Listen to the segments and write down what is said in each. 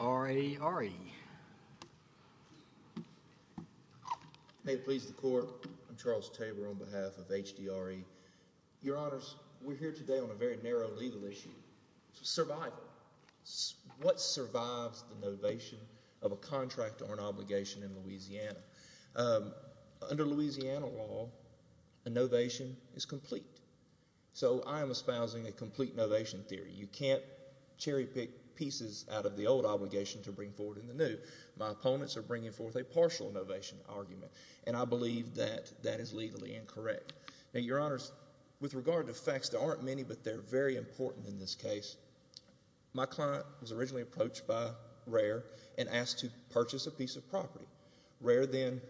RARE May it please the court. I'm Charles Tabor on behalf of HDRE. Your honors, we're here today on a very narrow legal issue. Survival. What survives the novation of a contract or an obligation in Louisiana? Under Louisiana law, a novation is complete. So I am espousing a complete novation theory. You can't cherry pick pieces out of the old obligation to bring forward in the new. My opponents are bringing forth a partial novation argument and I believe that that is legally incorrect. Now your honors, with regard to facts, there aren't many but they're very important in this case. My client was originally approached by RARE and asked to purchase a piece of property. RARE then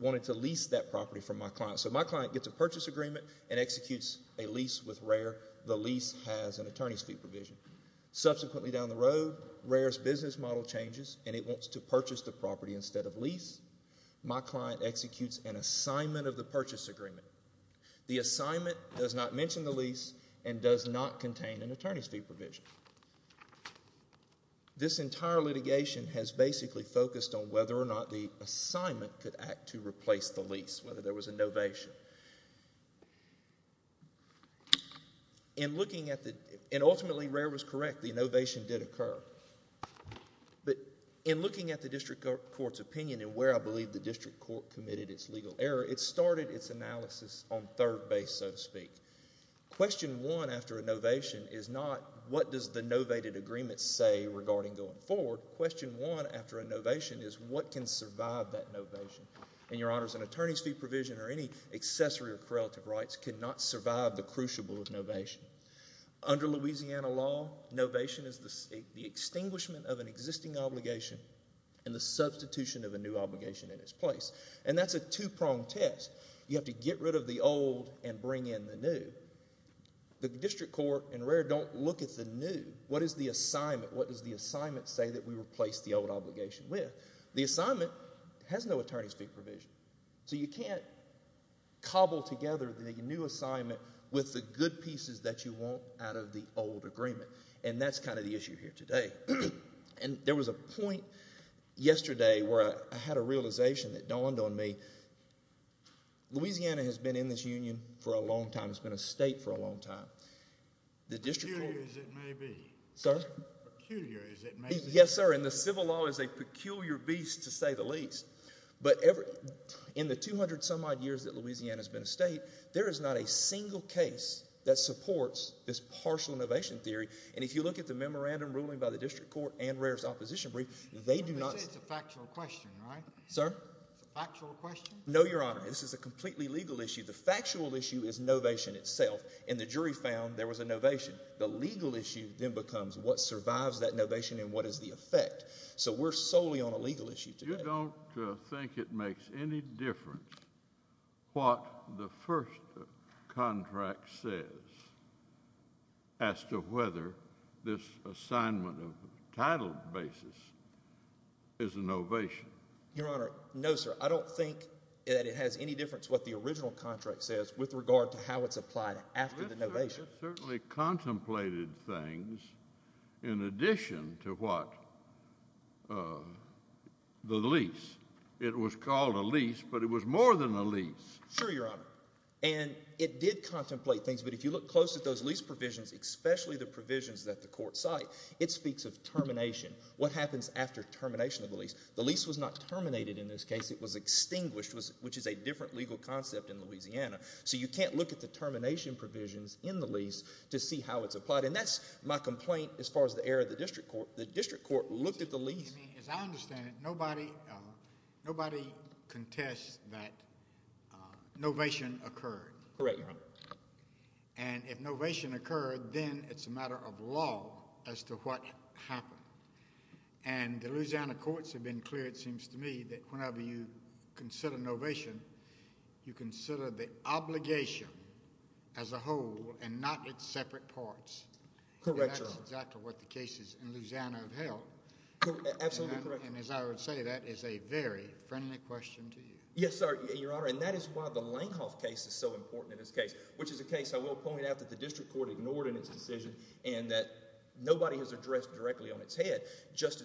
wanted to lease that property from my client. So my client gets a purchase agreement and executes a lease with RARE. The lease has an attorney's fee provision. Subsequently down the road, RARE's business model changes and it wants to purchase the property instead of lease. My client executes an assignment of the purchase agreement. The assignment does not mention the lease and does not contain an attorney's fee provision. This entire litigation has basically focused on whether or not the assignment could act to complete. In looking at the, and ultimately RARE was correct, the novation did occur. But in looking at the district court's opinion and where I believe the district court committed its legal error, it started its analysis on third base so to speak. Question one after a novation is not what does the novated agreement say regarding going forward. Question one after a novation is what can survive that novation. And your honors, an attorney's fee provision or any accessory or correlative rights cannot survive the crucible of novation. Under Louisiana law, novation is the extinguishment of an existing obligation and the substitution of a new obligation in its place. And that's a two-pronged test. You have to get rid of the old and bring in the new. The district court and RARE don't look at the new. What is the assignment? What does the assignment say that we replace the old obligation with? The assignment has no attorney's fee provision. So you can't cobble together the new assignment with the good pieces that you want out of the old agreement. And that's kind of the issue here today. And there was a point yesterday where I had a realization that dawned on me. Louisiana has been in this union for a long time. It's been a state for a long time. The district court. Peculiar as it may be. Sir? Peculiar as it may be. Yes sir, and the civil law is a peculiar beast to say the least. But in the 200 some odd years that Louisiana has been a state, there is not a single case that supports this partial novation theory. And if you look at the memorandum ruling by the district court and RARE's opposition brief, they do not. You say it's a factual question, right? Sir? It's a factual question? No, your honor. This is a completely legal issue. The factual issue is novation itself. And the jury found there was a novation. The legal issue then becomes what survives that novation and what is the effect. So we're solely on a legal issue today. You don't think it makes any difference what the first contract says as to whether this assignment of title basis is a novation? Your honor, no sir. I don't think that it has any difference what the original contract says with regard to how it's applied after the novation. It certainly contemplated things in addition to what the lease. It was called a lease, but it was more than a lease. Sure, your honor. And it did contemplate things, but if you look close at those lease provisions, especially the provisions that the court cite, it speaks of termination. What happens after termination of the lease? The lease was not terminated in this case. It was extinguished, which is a different legal concept in Louisiana. So you can't look at the termination provisions in the lease to see how it's applied. And that's my complaint as far as the error of the district court. The district court looked at the lease. As I understand it, nobody contests that novation occurred. Correct, your honor. And if novation occurred, then it's a matter of law as to what happened. And the Louisiana courts have been clear, it seems to me, that whenever you consider novation, you consider the obligation as a whole and not its separate parts. Correct. That's exactly what the cases in Louisiana have held. Absolutely correct. And as I would say, that is a very friendly question to you. Yes, sir, your honor. And that is why the Langhoff case is so important in this case, which is a case I will point out that the district court ignored in its decision and that nobody has addressed directly on its head. Judge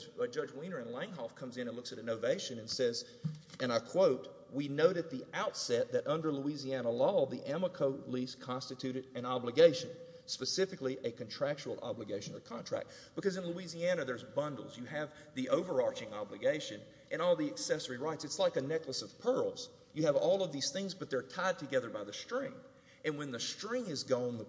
Weiner in Langhoff comes in and looks at a novation and says, and I quote, we note at the outset that under Louisiana law, the Amoco lease constituted an obligation, specifically a contractual obligation or contract. Because in Louisiana, there's bundles. You have the overarching obligation and all the accessory rights. It's like a necklace of pearls. You have all of these things, but they're tied together by the string. And when the string is cut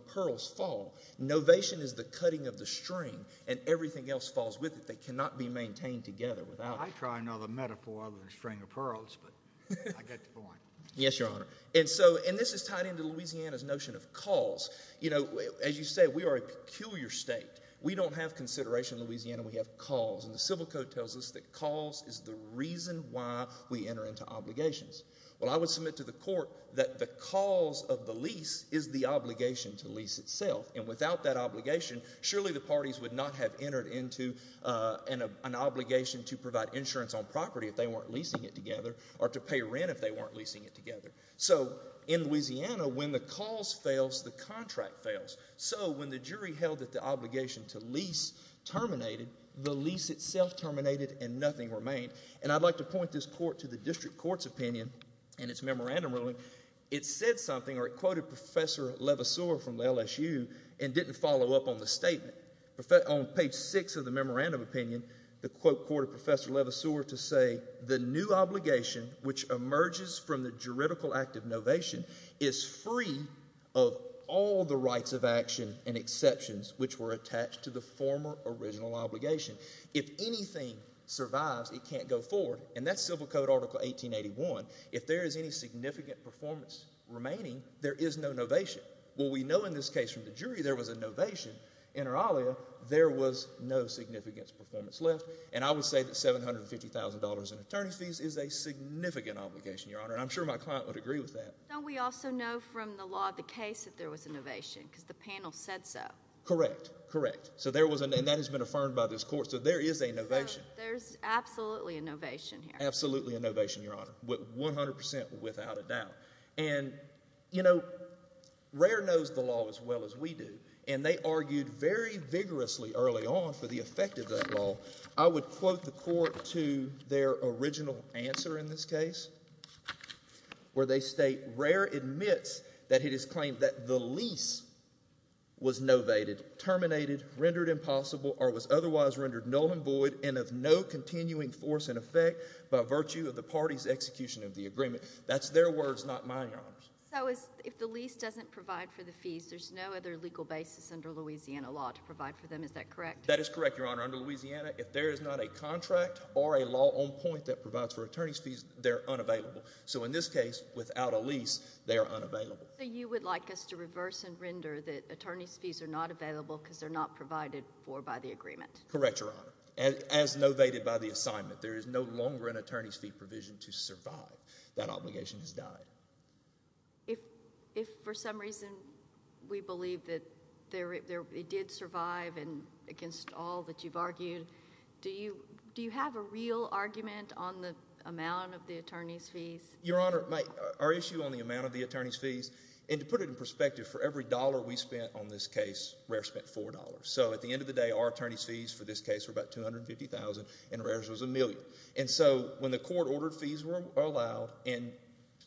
off, there's a cutting of the string and everything else falls with it. They cannot be maintained together without it. I try to know the metaphor of the string of pearls, but I get the point. Yes, your honor. And so, and this is tied into Louisiana's notion of cause. You know, as you say, we are a peculiar state. We don't have consideration in Louisiana. We have cause. And the civil code tells us that cause is the reason why we enter into obligations. Well, I would submit to the court that the cause of the lease is the obligation to lease itself. And without that obligation, surely the parties would not have entered into an obligation to provide insurance on property if they weren't leasing it together or to pay rent if they weren't leasing it together. So in Louisiana, when the cause fails, the contract fails. So when the jury held that the obligation to lease terminated, the lease itself terminated and nothing remained. And I'd like to point this court to the district court's opinion and its memorandum ruling. It said something or didn't follow up on the statement. On page six of the memorandum opinion, the court of Professor Levasseur to say the new obligation, which emerges from the juridical act of novation is free of all the rights of action and exceptions which were attached to the former original obligation. If anything survives, it can't go forward. And that's civil code article 1881. If there is any significant performance remaining, there is no novation. Well, we know in this case from the jury there was a novation, inter alia, there was no significant performance left. And I would say that $750,000 in attorney's fees is a significant obligation, Your Honor. And I'm sure my client would agree with that. Don't we also know from the law of the case that there was a novation because the panel said so? Correct. Correct. So there was and that has been affirmed by this court. So there is a novation. There's absolutely a novation here. Absolutely a novation, Your Honor, 100 percent without a doubt. And, you know, Rare knows the law as well as we do. And they argued very vigorously early on for the effect of that law. I would quote the court to their original answer in this case, where they state, Rare admits that it is claimed that the lease was novated, terminated, rendered impossible, or was otherwise rendered null and void and of no execution of the agreement. That's their words, not mine, Your Honor. So if the lease doesn't provide for the fees, there's no other legal basis under Louisiana law to provide for them, is that correct? That is correct, Your Honor. Under Louisiana, if there is not a contract or a law on point that provides for attorney's fees, they're unavailable. So in this case, without a lease, they are unavailable. So you would like us to reverse and render that attorney's fees are not available because they're not provided for by the agreement? Correct, Your Honor. As novated by the assignment, there is no longer an attorney's fee provision to survive. That obligation has died. If for some reason we believe that it did survive and against all that you've argued, do you have a real argument on the amount of the attorney's fees? Your Honor, our issue on the amount of the attorney's fees, and to put it in perspective, for every dollar we spent on this case, Rare spent four dollars. So at the end of the day, our attorney's fees for this case were about $250,000 and Rare's was a million. And so when the court ordered fees were allowed and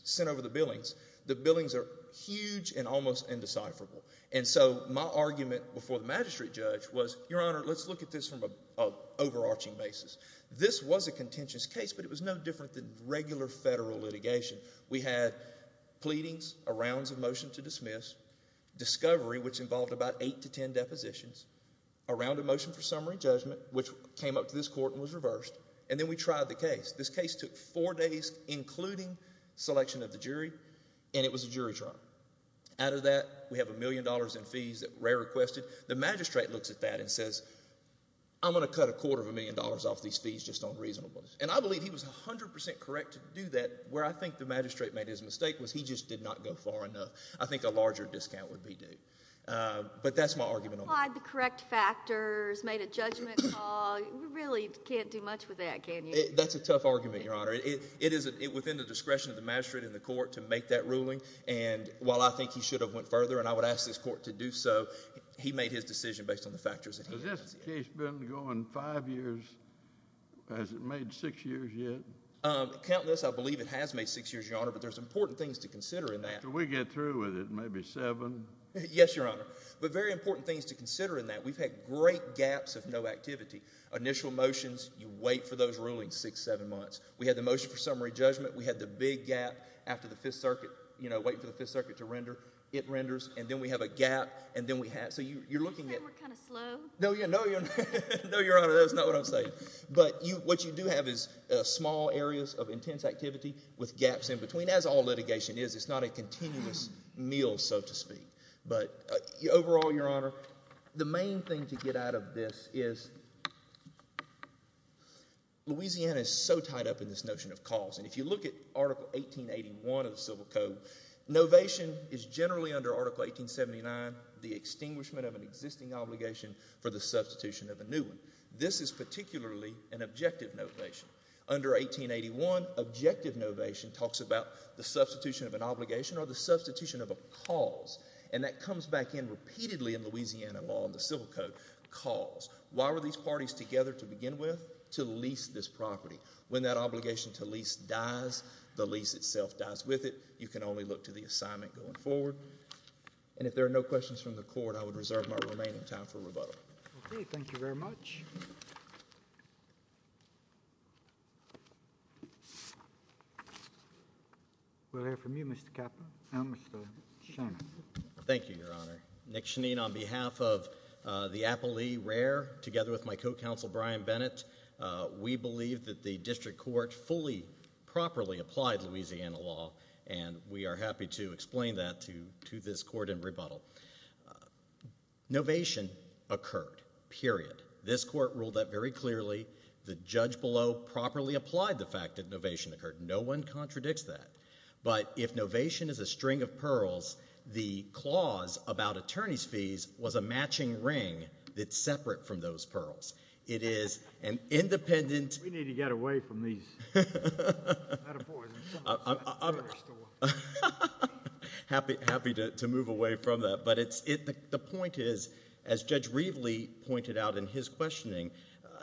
sent over the billings, the billings are huge and almost indecipherable. And so my argument before the magistrate judge was, Your Honor, let's look at this from an overarching basis. This was a contentious case, but it was no different than regular federal litigation. We had pleadings, a rounds of motion to dismiss, discovery, which involved about eight to ten depositions, a round of motion for summary judgment, which came up to this court and was reversed, and then we tried the case. This case took four days, including selection of the jury, and it was a jury trial. Out of that, we have a million dollars in fees that Rare requested. The magistrate looks at that and says, I'm going to cut a quarter of a million dollars off these fees just on reasonableness. And I believe he was 100% correct to do that. Where I think the magistrate made his mistake was he just did not go far enough. I think a larger discount would be due. But that's my argument. He applied the correct factors, made a judgment call. You really can't do much with that, can you? That's a tough argument, Your Honor. It is within the discretion of the magistrate and the court to make that ruling. And while I think he should have went further, and I would ask this court to do so, he made his decision based on the factors. Has this case been going five years? Has it made six years yet? Countless. I believe it has made six years, Your Honor, but there's important things to consider in that. Can we get through it? Maybe seven? Yes, Your Honor. But very important things to consider in that. We've had great gaps of no activity. Initial motions, you wait for those rulings six, seven months. We had the motion for summary judgment. We had the big gap after the Fifth Circuit, you know, waiting for the Fifth Circuit to render. It renders, and then we have a gap, and then we have—so you're looking at— You're saying we're kind of slow? No, Your Honor, that's not what I'm saying. But what you do have is small areas of intense activity with gaps in between. As all litigation is, it's not a continuous meal, so to speak. But overall, Your Honor, the main thing to get out of this is Louisiana is so tied up in this notion of cause. And if you look at Article 1881 of the Civil Code, novation is generally under Article 1879, the extinguishment of an existing obligation for the substitution of a new one. This is particularly an objective novation. Under 1881, objective novation talks about the substitution of an obligation or the substitution of a cause. And that comes back in repeatedly in Louisiana law in the Civil Code, cause. Why were these parties together to begin with? To lease this property. When that obligation to lease dies, the lease itself dies with it. You can only look to the assignment going forward. And if there are no questions from the Court, I would reserve my remaining time for rebuttal. Okay, thank you very much. We'll hear from you, Mr. Caput, and Mr. Shannon. Thank you, Your Honor. Nick Chenine, on behalf of the Applee Rare, together with my co-counsel Brian Bennett, we believe that the District Court fully properly applied Louisiana law, and we are happy to explain that to this Court in rebuttal. Novation occurred, period. This Court ruled that very clearly. The judge below properly applied the fact that novation occurred. No one contradicts that. But if novation is a string of pearls, the clause about attorney's fees was a matching ring that's separate from those pearls. It is an independent— We need to get away from these metaphors. Happy to move away from that. But the point is, as Judge Reveley pointed out in his questioning,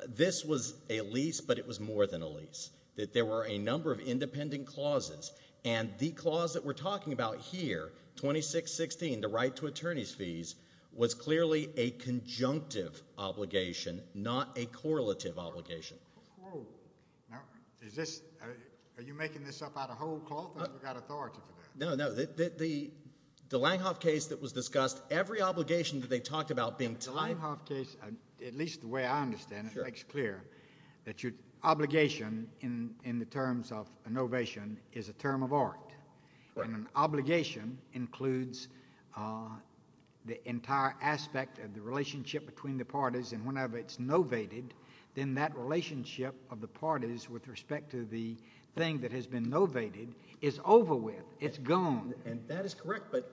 this was a lease, but it was more than a lease. There were a number of independent clauses, and the clause that we're talking about here, 2616, the right to attorney's fees, was clearly a conjunctive obligation, not a correlative obligation. Are you making this up out of whole cloth, or have we got authority for that? No, no. The Langhoff case that was discussed, every obligation that they talked about being tied— The Langhoff case, at least the way I understand it, makes clear that your obligation in the terms of a novation is a term of art, and an obligation includes the entire aspect of the relationship between the parties, and whenever it's novated, then that relationship of the parties with respect to the thing that has been novated is over with. It's gone. And that is correct, but—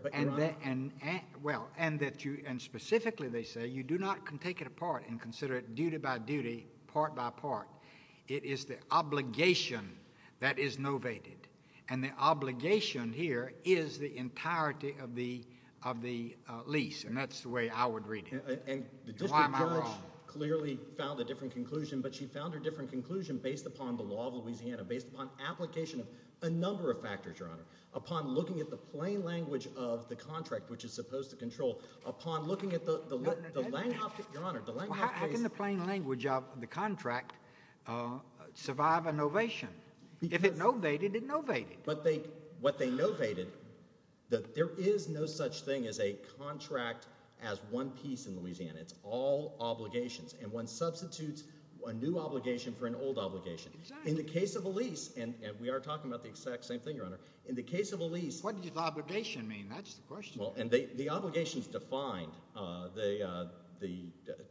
Well, and specifically, they say, you do not take it apart and consider it duty by duty, part by part. It is the obligation that is novated, and the obligation here is the entirety of the lease, and that's the way I would read it. Why am I wrong? And the District Judge clearly found a different conclusion, but she found a different conclusion based upon the law of Louisiana, based upon application of a number of factors, Your Honor, upon looking at the plain language of the contract, which is supposed to control, upon looking at the Langhoff case— The contract survive a novation. If it novated, it novated. But what they novated, there is no such thing as a contract as one piece in Louisiana. It's all obligations, and one substitutes a new obligation for an old obligation. Exactly. In the case of a lease, and we are talking about the exact same thing, Your Honor, in the case of a lease— What does obligation mean? That's the question. The obligation is defined. The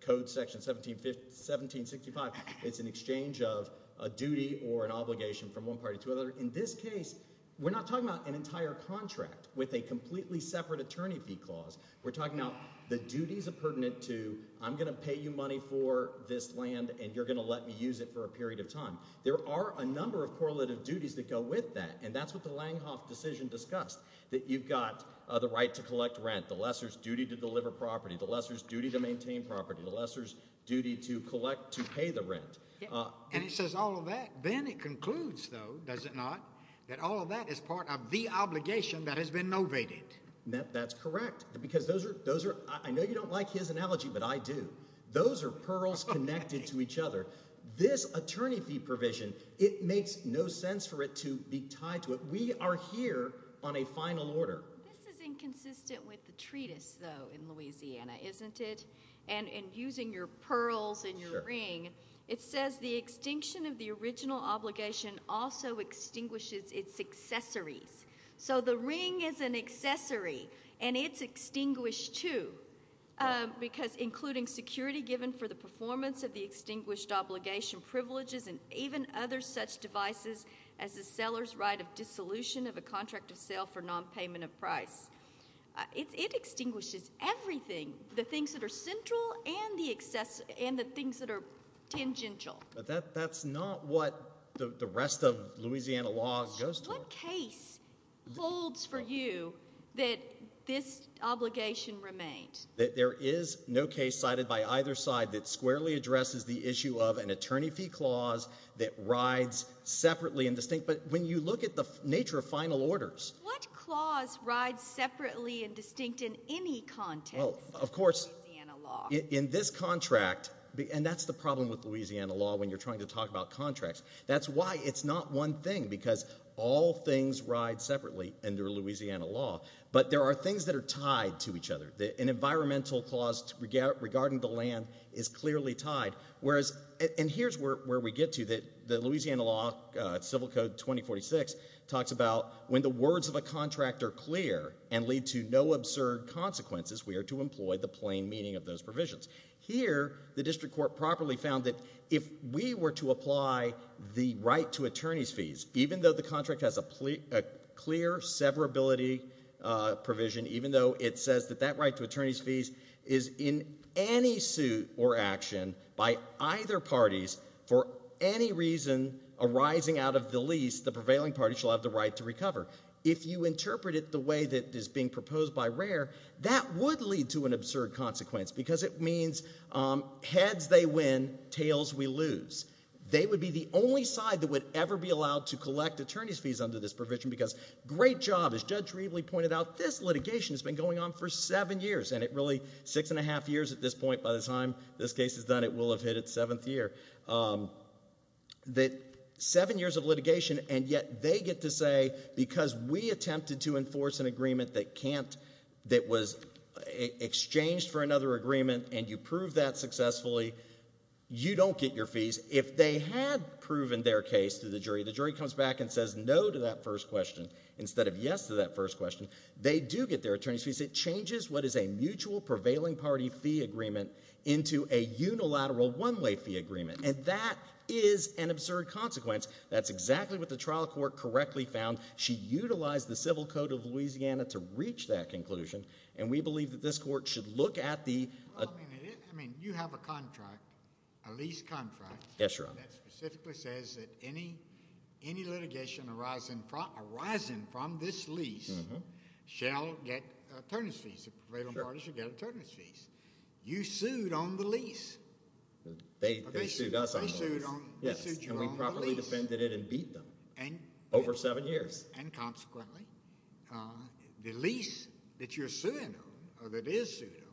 Code Section 1765, it's an exchange of a duty or an obligation from one party to another. In this case, we're not talking about an entire contract with a completely separate attorney fee clause. We're talking about the duties are pertinent to, I'm going to pay you money for this land, and you're going to let me use it for a period of time. There are a number of correlative duties that go with that, and that's what the Langhoff decision discussed, that you've got the right to collect rent, the lessor's duty to deliver property, the lessor's duty to maintain property, the lessor's duty to collect to pay the rent. And it says all of that. Then it concludes, though, does it not, that all of that is part of the obligation that has been novated. That's correct, because those are, I know you don't like his analogy, but I do. Those are pearls connected to each other. This attorney fee provision, it makes no sense for it to be tied to it. We are here on a final order. This is inconsistent with the treatise, though, in Louisiana, isn't it? And using your pearls and your ring, it says the extinction of the original obligation also extinguishes its accessories. So the ring is an accessory, and it's extinguished too, because including security given for the performance of the seller's right of dissolution of a contract of sale for nonpayment of price. It extinguishes everything, the things that are central and the things that are tangential. But that's not what the rest of Louisiana law goes to. What case holds for you that this obligation remained? There is no case cited by either side that squarely addresses the issue of an attorney fee clause that rides separately and distinct. But when you look at the nature of final orders. What clause rides separately and distinct in any context? Well, of course, in this contract, and that's the problem with Louisiana law when you're trying to talk about contracts. That's why it's not one thing, because all things ride separately under Louisiana law. But there are things that are tied to each other. An environmental clause regarding the land is clearly tied. And here's where we get to. The Louisiana law, Civil Code 2046, talks about when the words of a contract are clear and lead to no absurd consequences, we are to employ the plain meaning of those provisions. Here, the district court properly found that if we were to apply the right to attorney's fees, even though the contract has a clear severability provision, even though it says that that right to attorney's fees is in any suit or action by either parties, for any reason arising out of the lease, the prevailing party shall have the right to recover. If you interpret it the way that is being proposed by RARE, that would lead to an absurd consequence, because it means heads they win, tails we lose. They would be the only side that would ever be allowed to collect attorney's provision, because great job. As Judge Riebley pointed out, this litigation has been going on for seven years. And it really, six and a half years at this point, by the time this case is done, it will have hit its seventh year. Seven years of litigation, and yet they get to say, because we attempted to enforce an agreement that was exchanged for another agreement, and you prove that successfully, you don't get your fees. If they had proven their case to the first question, instead of yes to that first question, they do get their attorney's fees. It changes what is a mutual prevailing party fee agreement into a unilateral one-way fee agreement, and that is an absurd consequence. That's exactly what the trial court correctly found. She utilized the civil code of Louisiana to reach that conclusion, and we believe that this court should look at the... I mean, you have a contract, a lease contract... Yes, Your Honor. That specifically says that any litigation arising from this lease shall get attorney's fees. The prevailing party should get attorney's fees. You sued on the lease. They sued us on the lease. They sued you on the lease. Yes, and we properly defended it and beat them over seven years. And consequently, the lease that you're suing on, or that is sued on,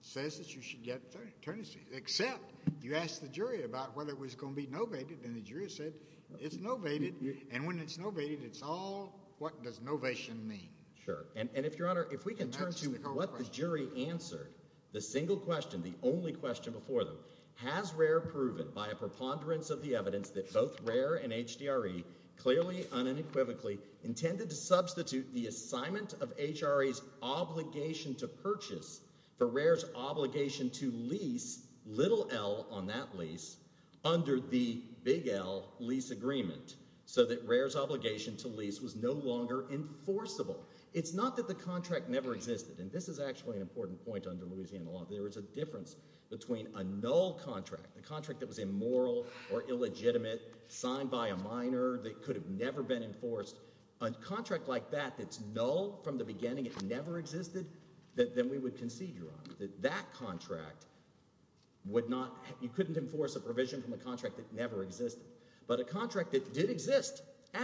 says that you should get attorney's fees, except you asked the jury about whether it was going to be novated, and the jury said it's novated, and when it's novated, it's all what does novation mean. Sure, and if, Your Honor, if we can turn to what the jury answered, the single question, the only question before them, has RARE proven by a preponderance of the evidence that both RARE and HDRE clearly, unequivocally, intended to substitute the assignment of HRA's obligation to purchase for RARE's obligation to lease, little L on that lease, under the big L lease agreement, so that RARE's obligation to lease was no longer enforceable. It's not that the contract never existed, and this is actually an important point under Louisiana law. There is a difference between a null contract, a contract that was immoral or illegitimate, signed by a minor that could have never been enforced, a contract like that that's null from the beginning, it never existed, that then we would concede, Your Honor, that that contract would not, you couldn't enforce a provision from a contract that never existed, but a contract that did exist,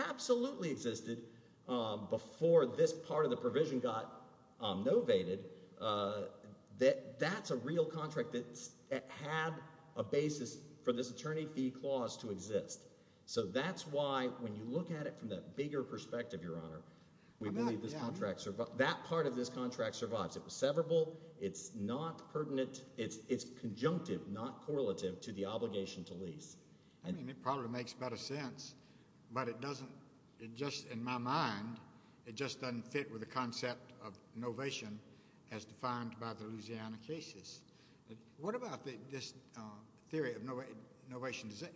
absolutely existed, before this part of the provision got novated, that that's a real contract that had a basis for this attorney fee clause to exist, so that's why when you look at it from that bigger perspective, Your Honor, we believe this contract, that part of this contract survives. It was severable, it's not pertinent, it's conjunctive, not correlative to the obligation to lease. I mean, it probably makes better sense, but it doesn't, it just, in my mind, it just doesn't fit with the concept of novation as defined by the Louisiana cases. What about this theory of novation? Does it,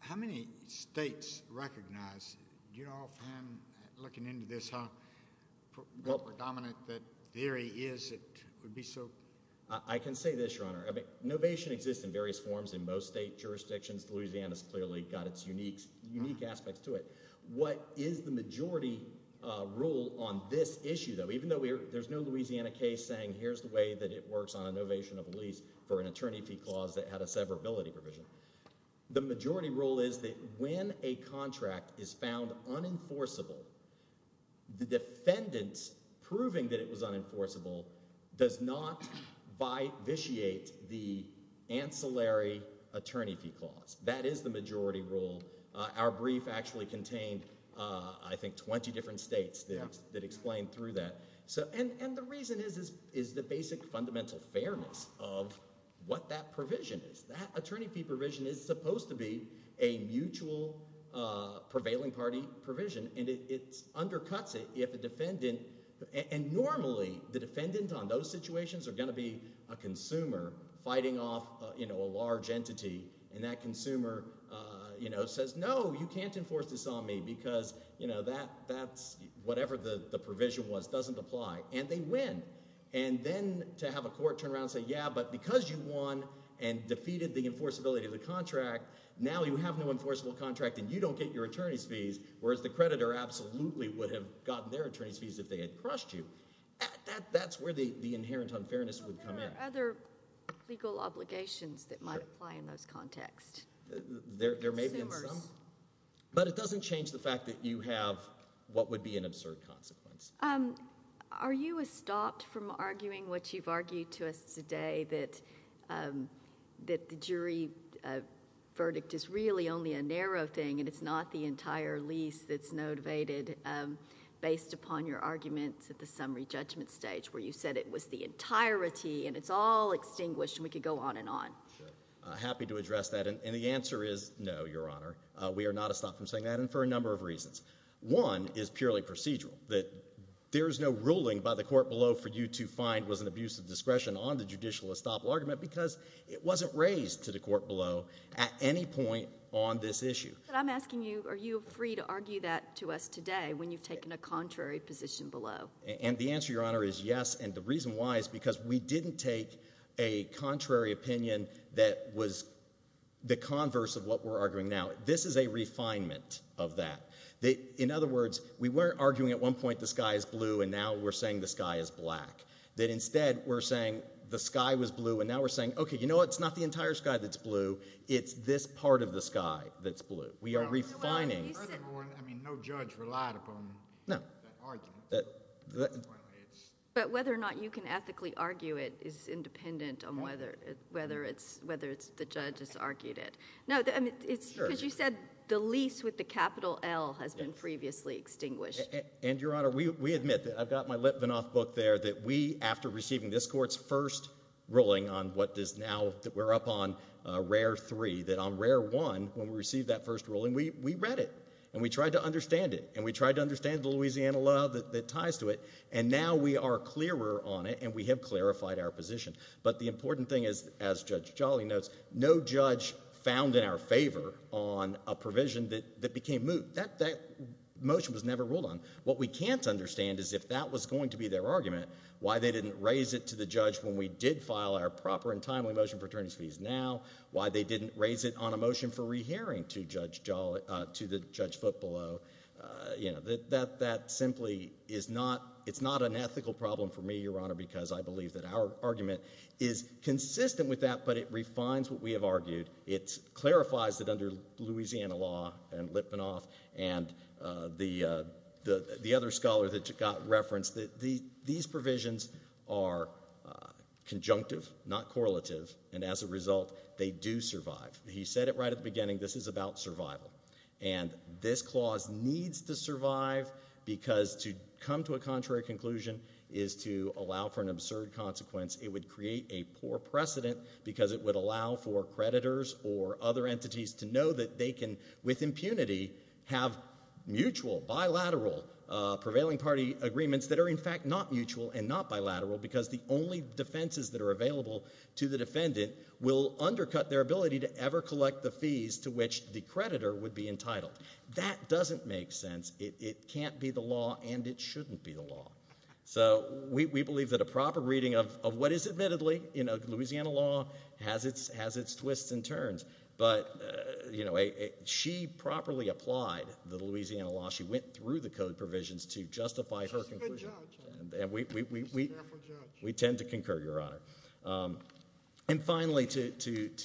how many states recognize, do you know offhand, looking into this, how predominant that theory is that it would be so? I can say this, Your Honor, I mean, novation exists in various forms in most state jurisdictions. Louisiana's clearly got its unique, unique aspects to it. What is the majority rule on this issue, though, even though we're, there's no Louisiana case saying here's the way that it works on a novation of a lease for an attorney fee clause that had a severability provision. The majority rule is that when a contract is found unenforceable, the defendant's proving that it was unenforceable does not vitiate the ancillary attorney fee clause. That is the majority rule. Our brief actually contained, I think, 20 different states that explained through that. So, and the reason is the basic fundamental fairness of what that provision is. That attorney fee provision is supposed to be a mutual prevailing party provision and it undercuts it if a defendant, and normally the defendant on those situations are going to be a consumer fighting off, you know, a large entity and that consumer, you know, says no, you can't enforce this on me because, you know, that, that's whatever the provision was doesn't apply. And they win. And then to have a court turn around and say, yeah, but because you won and defeated the enforceability of the contract, now you have no enforceable contract and you don't get your attorney's fees, whereas the creditor absolutely would have gotten their attorney's fees if they had crushed you. That, that's where the, the inherent unfairness would come in. There are other legal obligations that might apply in those contexts. Consumers. There may be some, but it doesn't change the fact that you have what would be an absurd consequence. Are you stopped from arguing what you've argued to us today, that, that the jury verdict is really only a narrow thing and it's not the entire lease that's motivated based upon your arguments at the summary judgment stage where you said it was the entirety and it's all extinguished and we could go on and on? I'm happy to address that. And the answer is no, Your Honor. We are not a stop from saying that. And for a number of reasons. One is purely procedural. That there is no ruling by the court below for you to find was an abuse of discretion on the judicial estoppel argument because it wasn't raised to the court below at any point on this issue. But I'm asking you, are you free to argue that to us today when you've taken a contrary position below? And the answer, Your Honor, is yes. And the reason why is because we didn't take a contrary opinion that was the converse of what we're arguing now. This is a refinement of that. In other words, we weren't arguing at one point the sky is blue and now we're saying the sky is black. That instead we're saying the sky was blue and now we're saying, okay, you know, it's not the entire sky that's blue. It's this part of the sky that's blue. We are refining. I mean, no judge relied upon that argument. But whether or not you can ethically argue it is independent on whether whether it's whether it's the judges argued it. No, I mean, it's because you said the lease with the capital L has been previously extinguished. And Your Honor, we admit that I've got my Litvinoff book there that we after receiving this court's first ruling on what does now that we're up on a rare three, that on rare one, when we received that first ruling, we read it and we tried to understand it and we tried to understand the Louisiana law that ties to it. And now we are clearer on it and we have clarified our position. But the important thing is, as Judge Jolly notes, no judge found in our favor on a provision that became moot. That motion was never ruled on. What we can't understand is if that was going to be their argument, why they didn't raise it to the judge when we did file our proper and timely motion for attorneys fees now. Why they didn't raise it on a motion for rehearing to Judge Jolly, to the judge foot below. You know, that simply is not, it's not an ethical problem for me, Your Honor, because I believe that our argument is consistent with that, but it refines what we have argued. It clarifies that under Louisiana law and Litvinoff and the other scholar that got referenced that these provisions are conjunctive, not correlative, and as a result, they do survive. He said it right at the beginning, this is about survival. And this clause needs to survive because to come to a contrary conclusion is to allow for an absurd consequence. It would create a poor precedent because it would allow for creditors or other entities to know that they can, with impunity, have mutual, bilateral, prevailing party agreements that are in fact not mutual and not bilateral because the only defenses that are available to the defendant will undercut their ability to ever collect the fees to which the creditor would be entitled. That doesn't make sense. It can't be the law and it shouldn't be the law. So we believe that a proper reading of what is admittedly in Louisiana law has its twists and turns. But she properly applied the Louisiana law. She went through the code provisions to justify her conclusion. We tend to concur, Your Honor. And finally, to hit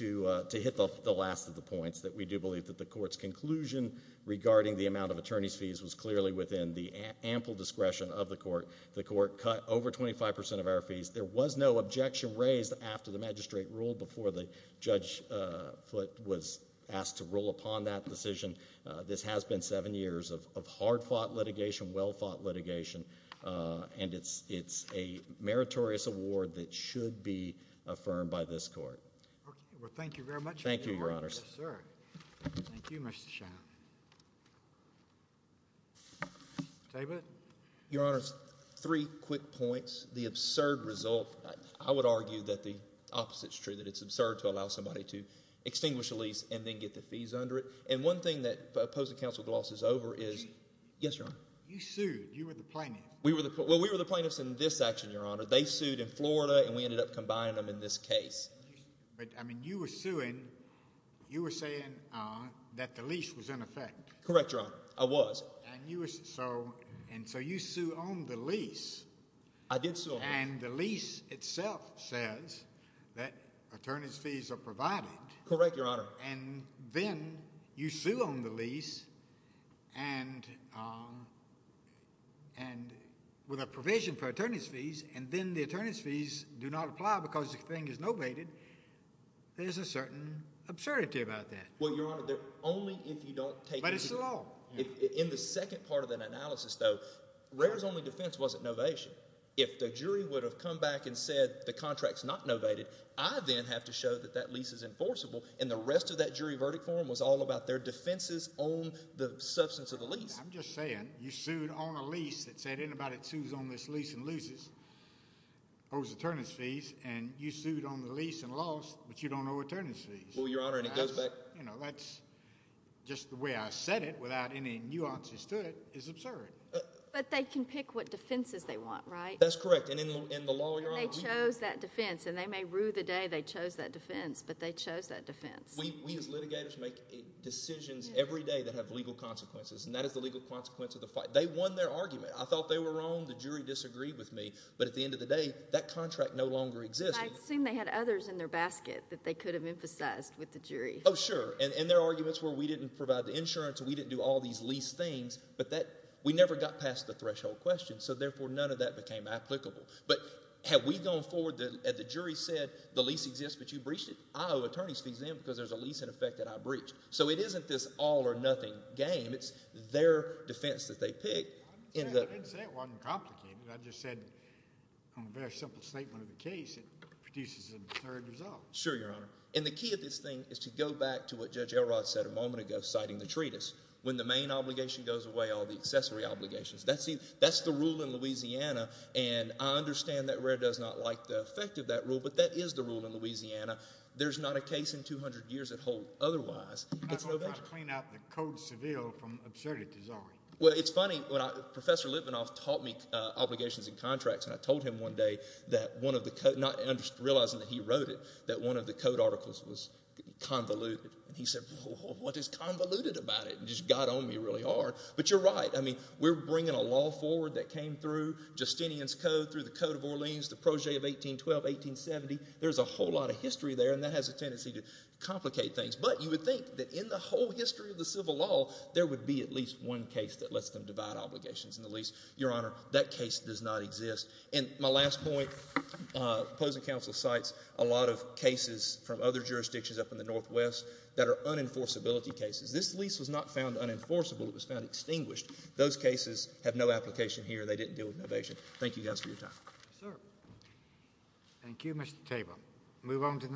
the last of the points, that we do believe that the court's conclusion regarding the amount of attorney's fees was clearly within the ample discretion of the court. The court cut over 25% of our fees. There was no objection raised after the magistrate ruled before the judge was asked to rule upon that decision. This has been seven years of hard fought litigation, well fought litigation. And it's a meritorious award that should be affirmed by this court. Well, thank you very much. Thank you, Your Honors. Sir. Thank you, Mr. Shaw. David? Your Honors, three quick points. The absurd result, I would argue that the opposite's true, that it's absurd to allow somebody to extinguish a lease and then get the fees under it. And one thing that opposing counsel Gloss is over is, yes, Your Honor? You sued. You were the plaintiff. Well, we were the plaintiffs in this action, Your Honor. They sued in Florida and we ended up combining them in this case. But, I mean, you were suing, you were saying that the lease was in effect. I was. And so you sued on the lease. I did sue on the lease. And the lease itself says that attorney's fees are provided. Correct, Your Honor. And then you sue on the lease and with a provision for attorney's fees, and then the attorney's fees do not apply because the thing is novated. There's a certain absurdity about that. Well, Your Honor, only if you don't take- But it's the law. In the second part of that analysis, though, Rare's only defense wasn't novation. If the jury would have come back and said the contract's not novated, I then have to show that that lease is enforceable. And the rest of that jury verdict forum was all about their defenses on the substance of the lease. I'm just saying, you sued on a lease that said anybody that sues on this lease and loses owes attorney's fees. And you sued on the lease and lost, but you don't owe attorney's fees. Well, Your Honor, and it goes back- You know, that's just the way I said it without any nuances to it is absurd. But they can pick what defenses they want, right? That's correct. And in the law, Your Honor- And they chose that defense. And they may rue the day they chose that defense, but they chose that defense. We, as litigators, make decisions every day that have legal consequences, and that is the legal consequence of the fight. They won their argument. I thought they were wrong. The jury disagreed with me. But at the end of the day, that contract no longer exists. I assume they had others in their basket that they could have emphasized with the jury. Oh, sure. And their arguments were we didn't provide the insurance, we didn't do all these lease things, but we never got past the threshold question. So, therefore, none of that became applicable. But had we gone forward and the jury said the lease exists, but you breached it, I owe attorney's fees then because there's a lease in effect that I breached. So, it isn't this all-or-nothing game. It's their defense that they picked. I didn't say it wasn't complicated. I just said on a very simple statement of the case, it produces an absurd result. Sure, Your Honor. And the key of this thing is to go back to what Judge Elrod said a moment ago citing the treatise. When the main obligation goes away, all the accessory obligations. That's the rule in Louisiana, and I understand that Rare does not like the effect of that rule, but that is the rule in Louisiana. There's not a case in 200 years that holds otherwise. I'm not going to clean out the Code Seville from absurdity, sorry. Well, it's funny. Professor Litvinoff taught me obligations and contracts, and I told him one day that one of the, not realizing that he wrote it, that one of the code articles was convoluted. And he said, what is convoluted about it, and just got on me really hard. But you're right, I mean, we're bringing a law forward that came through Justinian's Code, through the Code of Orleans, the Projet of 1812, 1870. There's a whole lot of history there, and that has a tendency to complicate things. But you would think that in the whole history of the civil law, there would be at least one case that lets them divide obligations in the lease. Your Honor, that case does not exist. And my last point, opposing counsel cites a lot of cases from other jurisdictions up in the Northwest that are unenforceability cases. This lease was not found unenforceable, it was found extinguished. Those cases have no application here, they didn't deal with innovation. Thank you guys for your time. Sir. Thank you, Mr. Tabor. Move on to the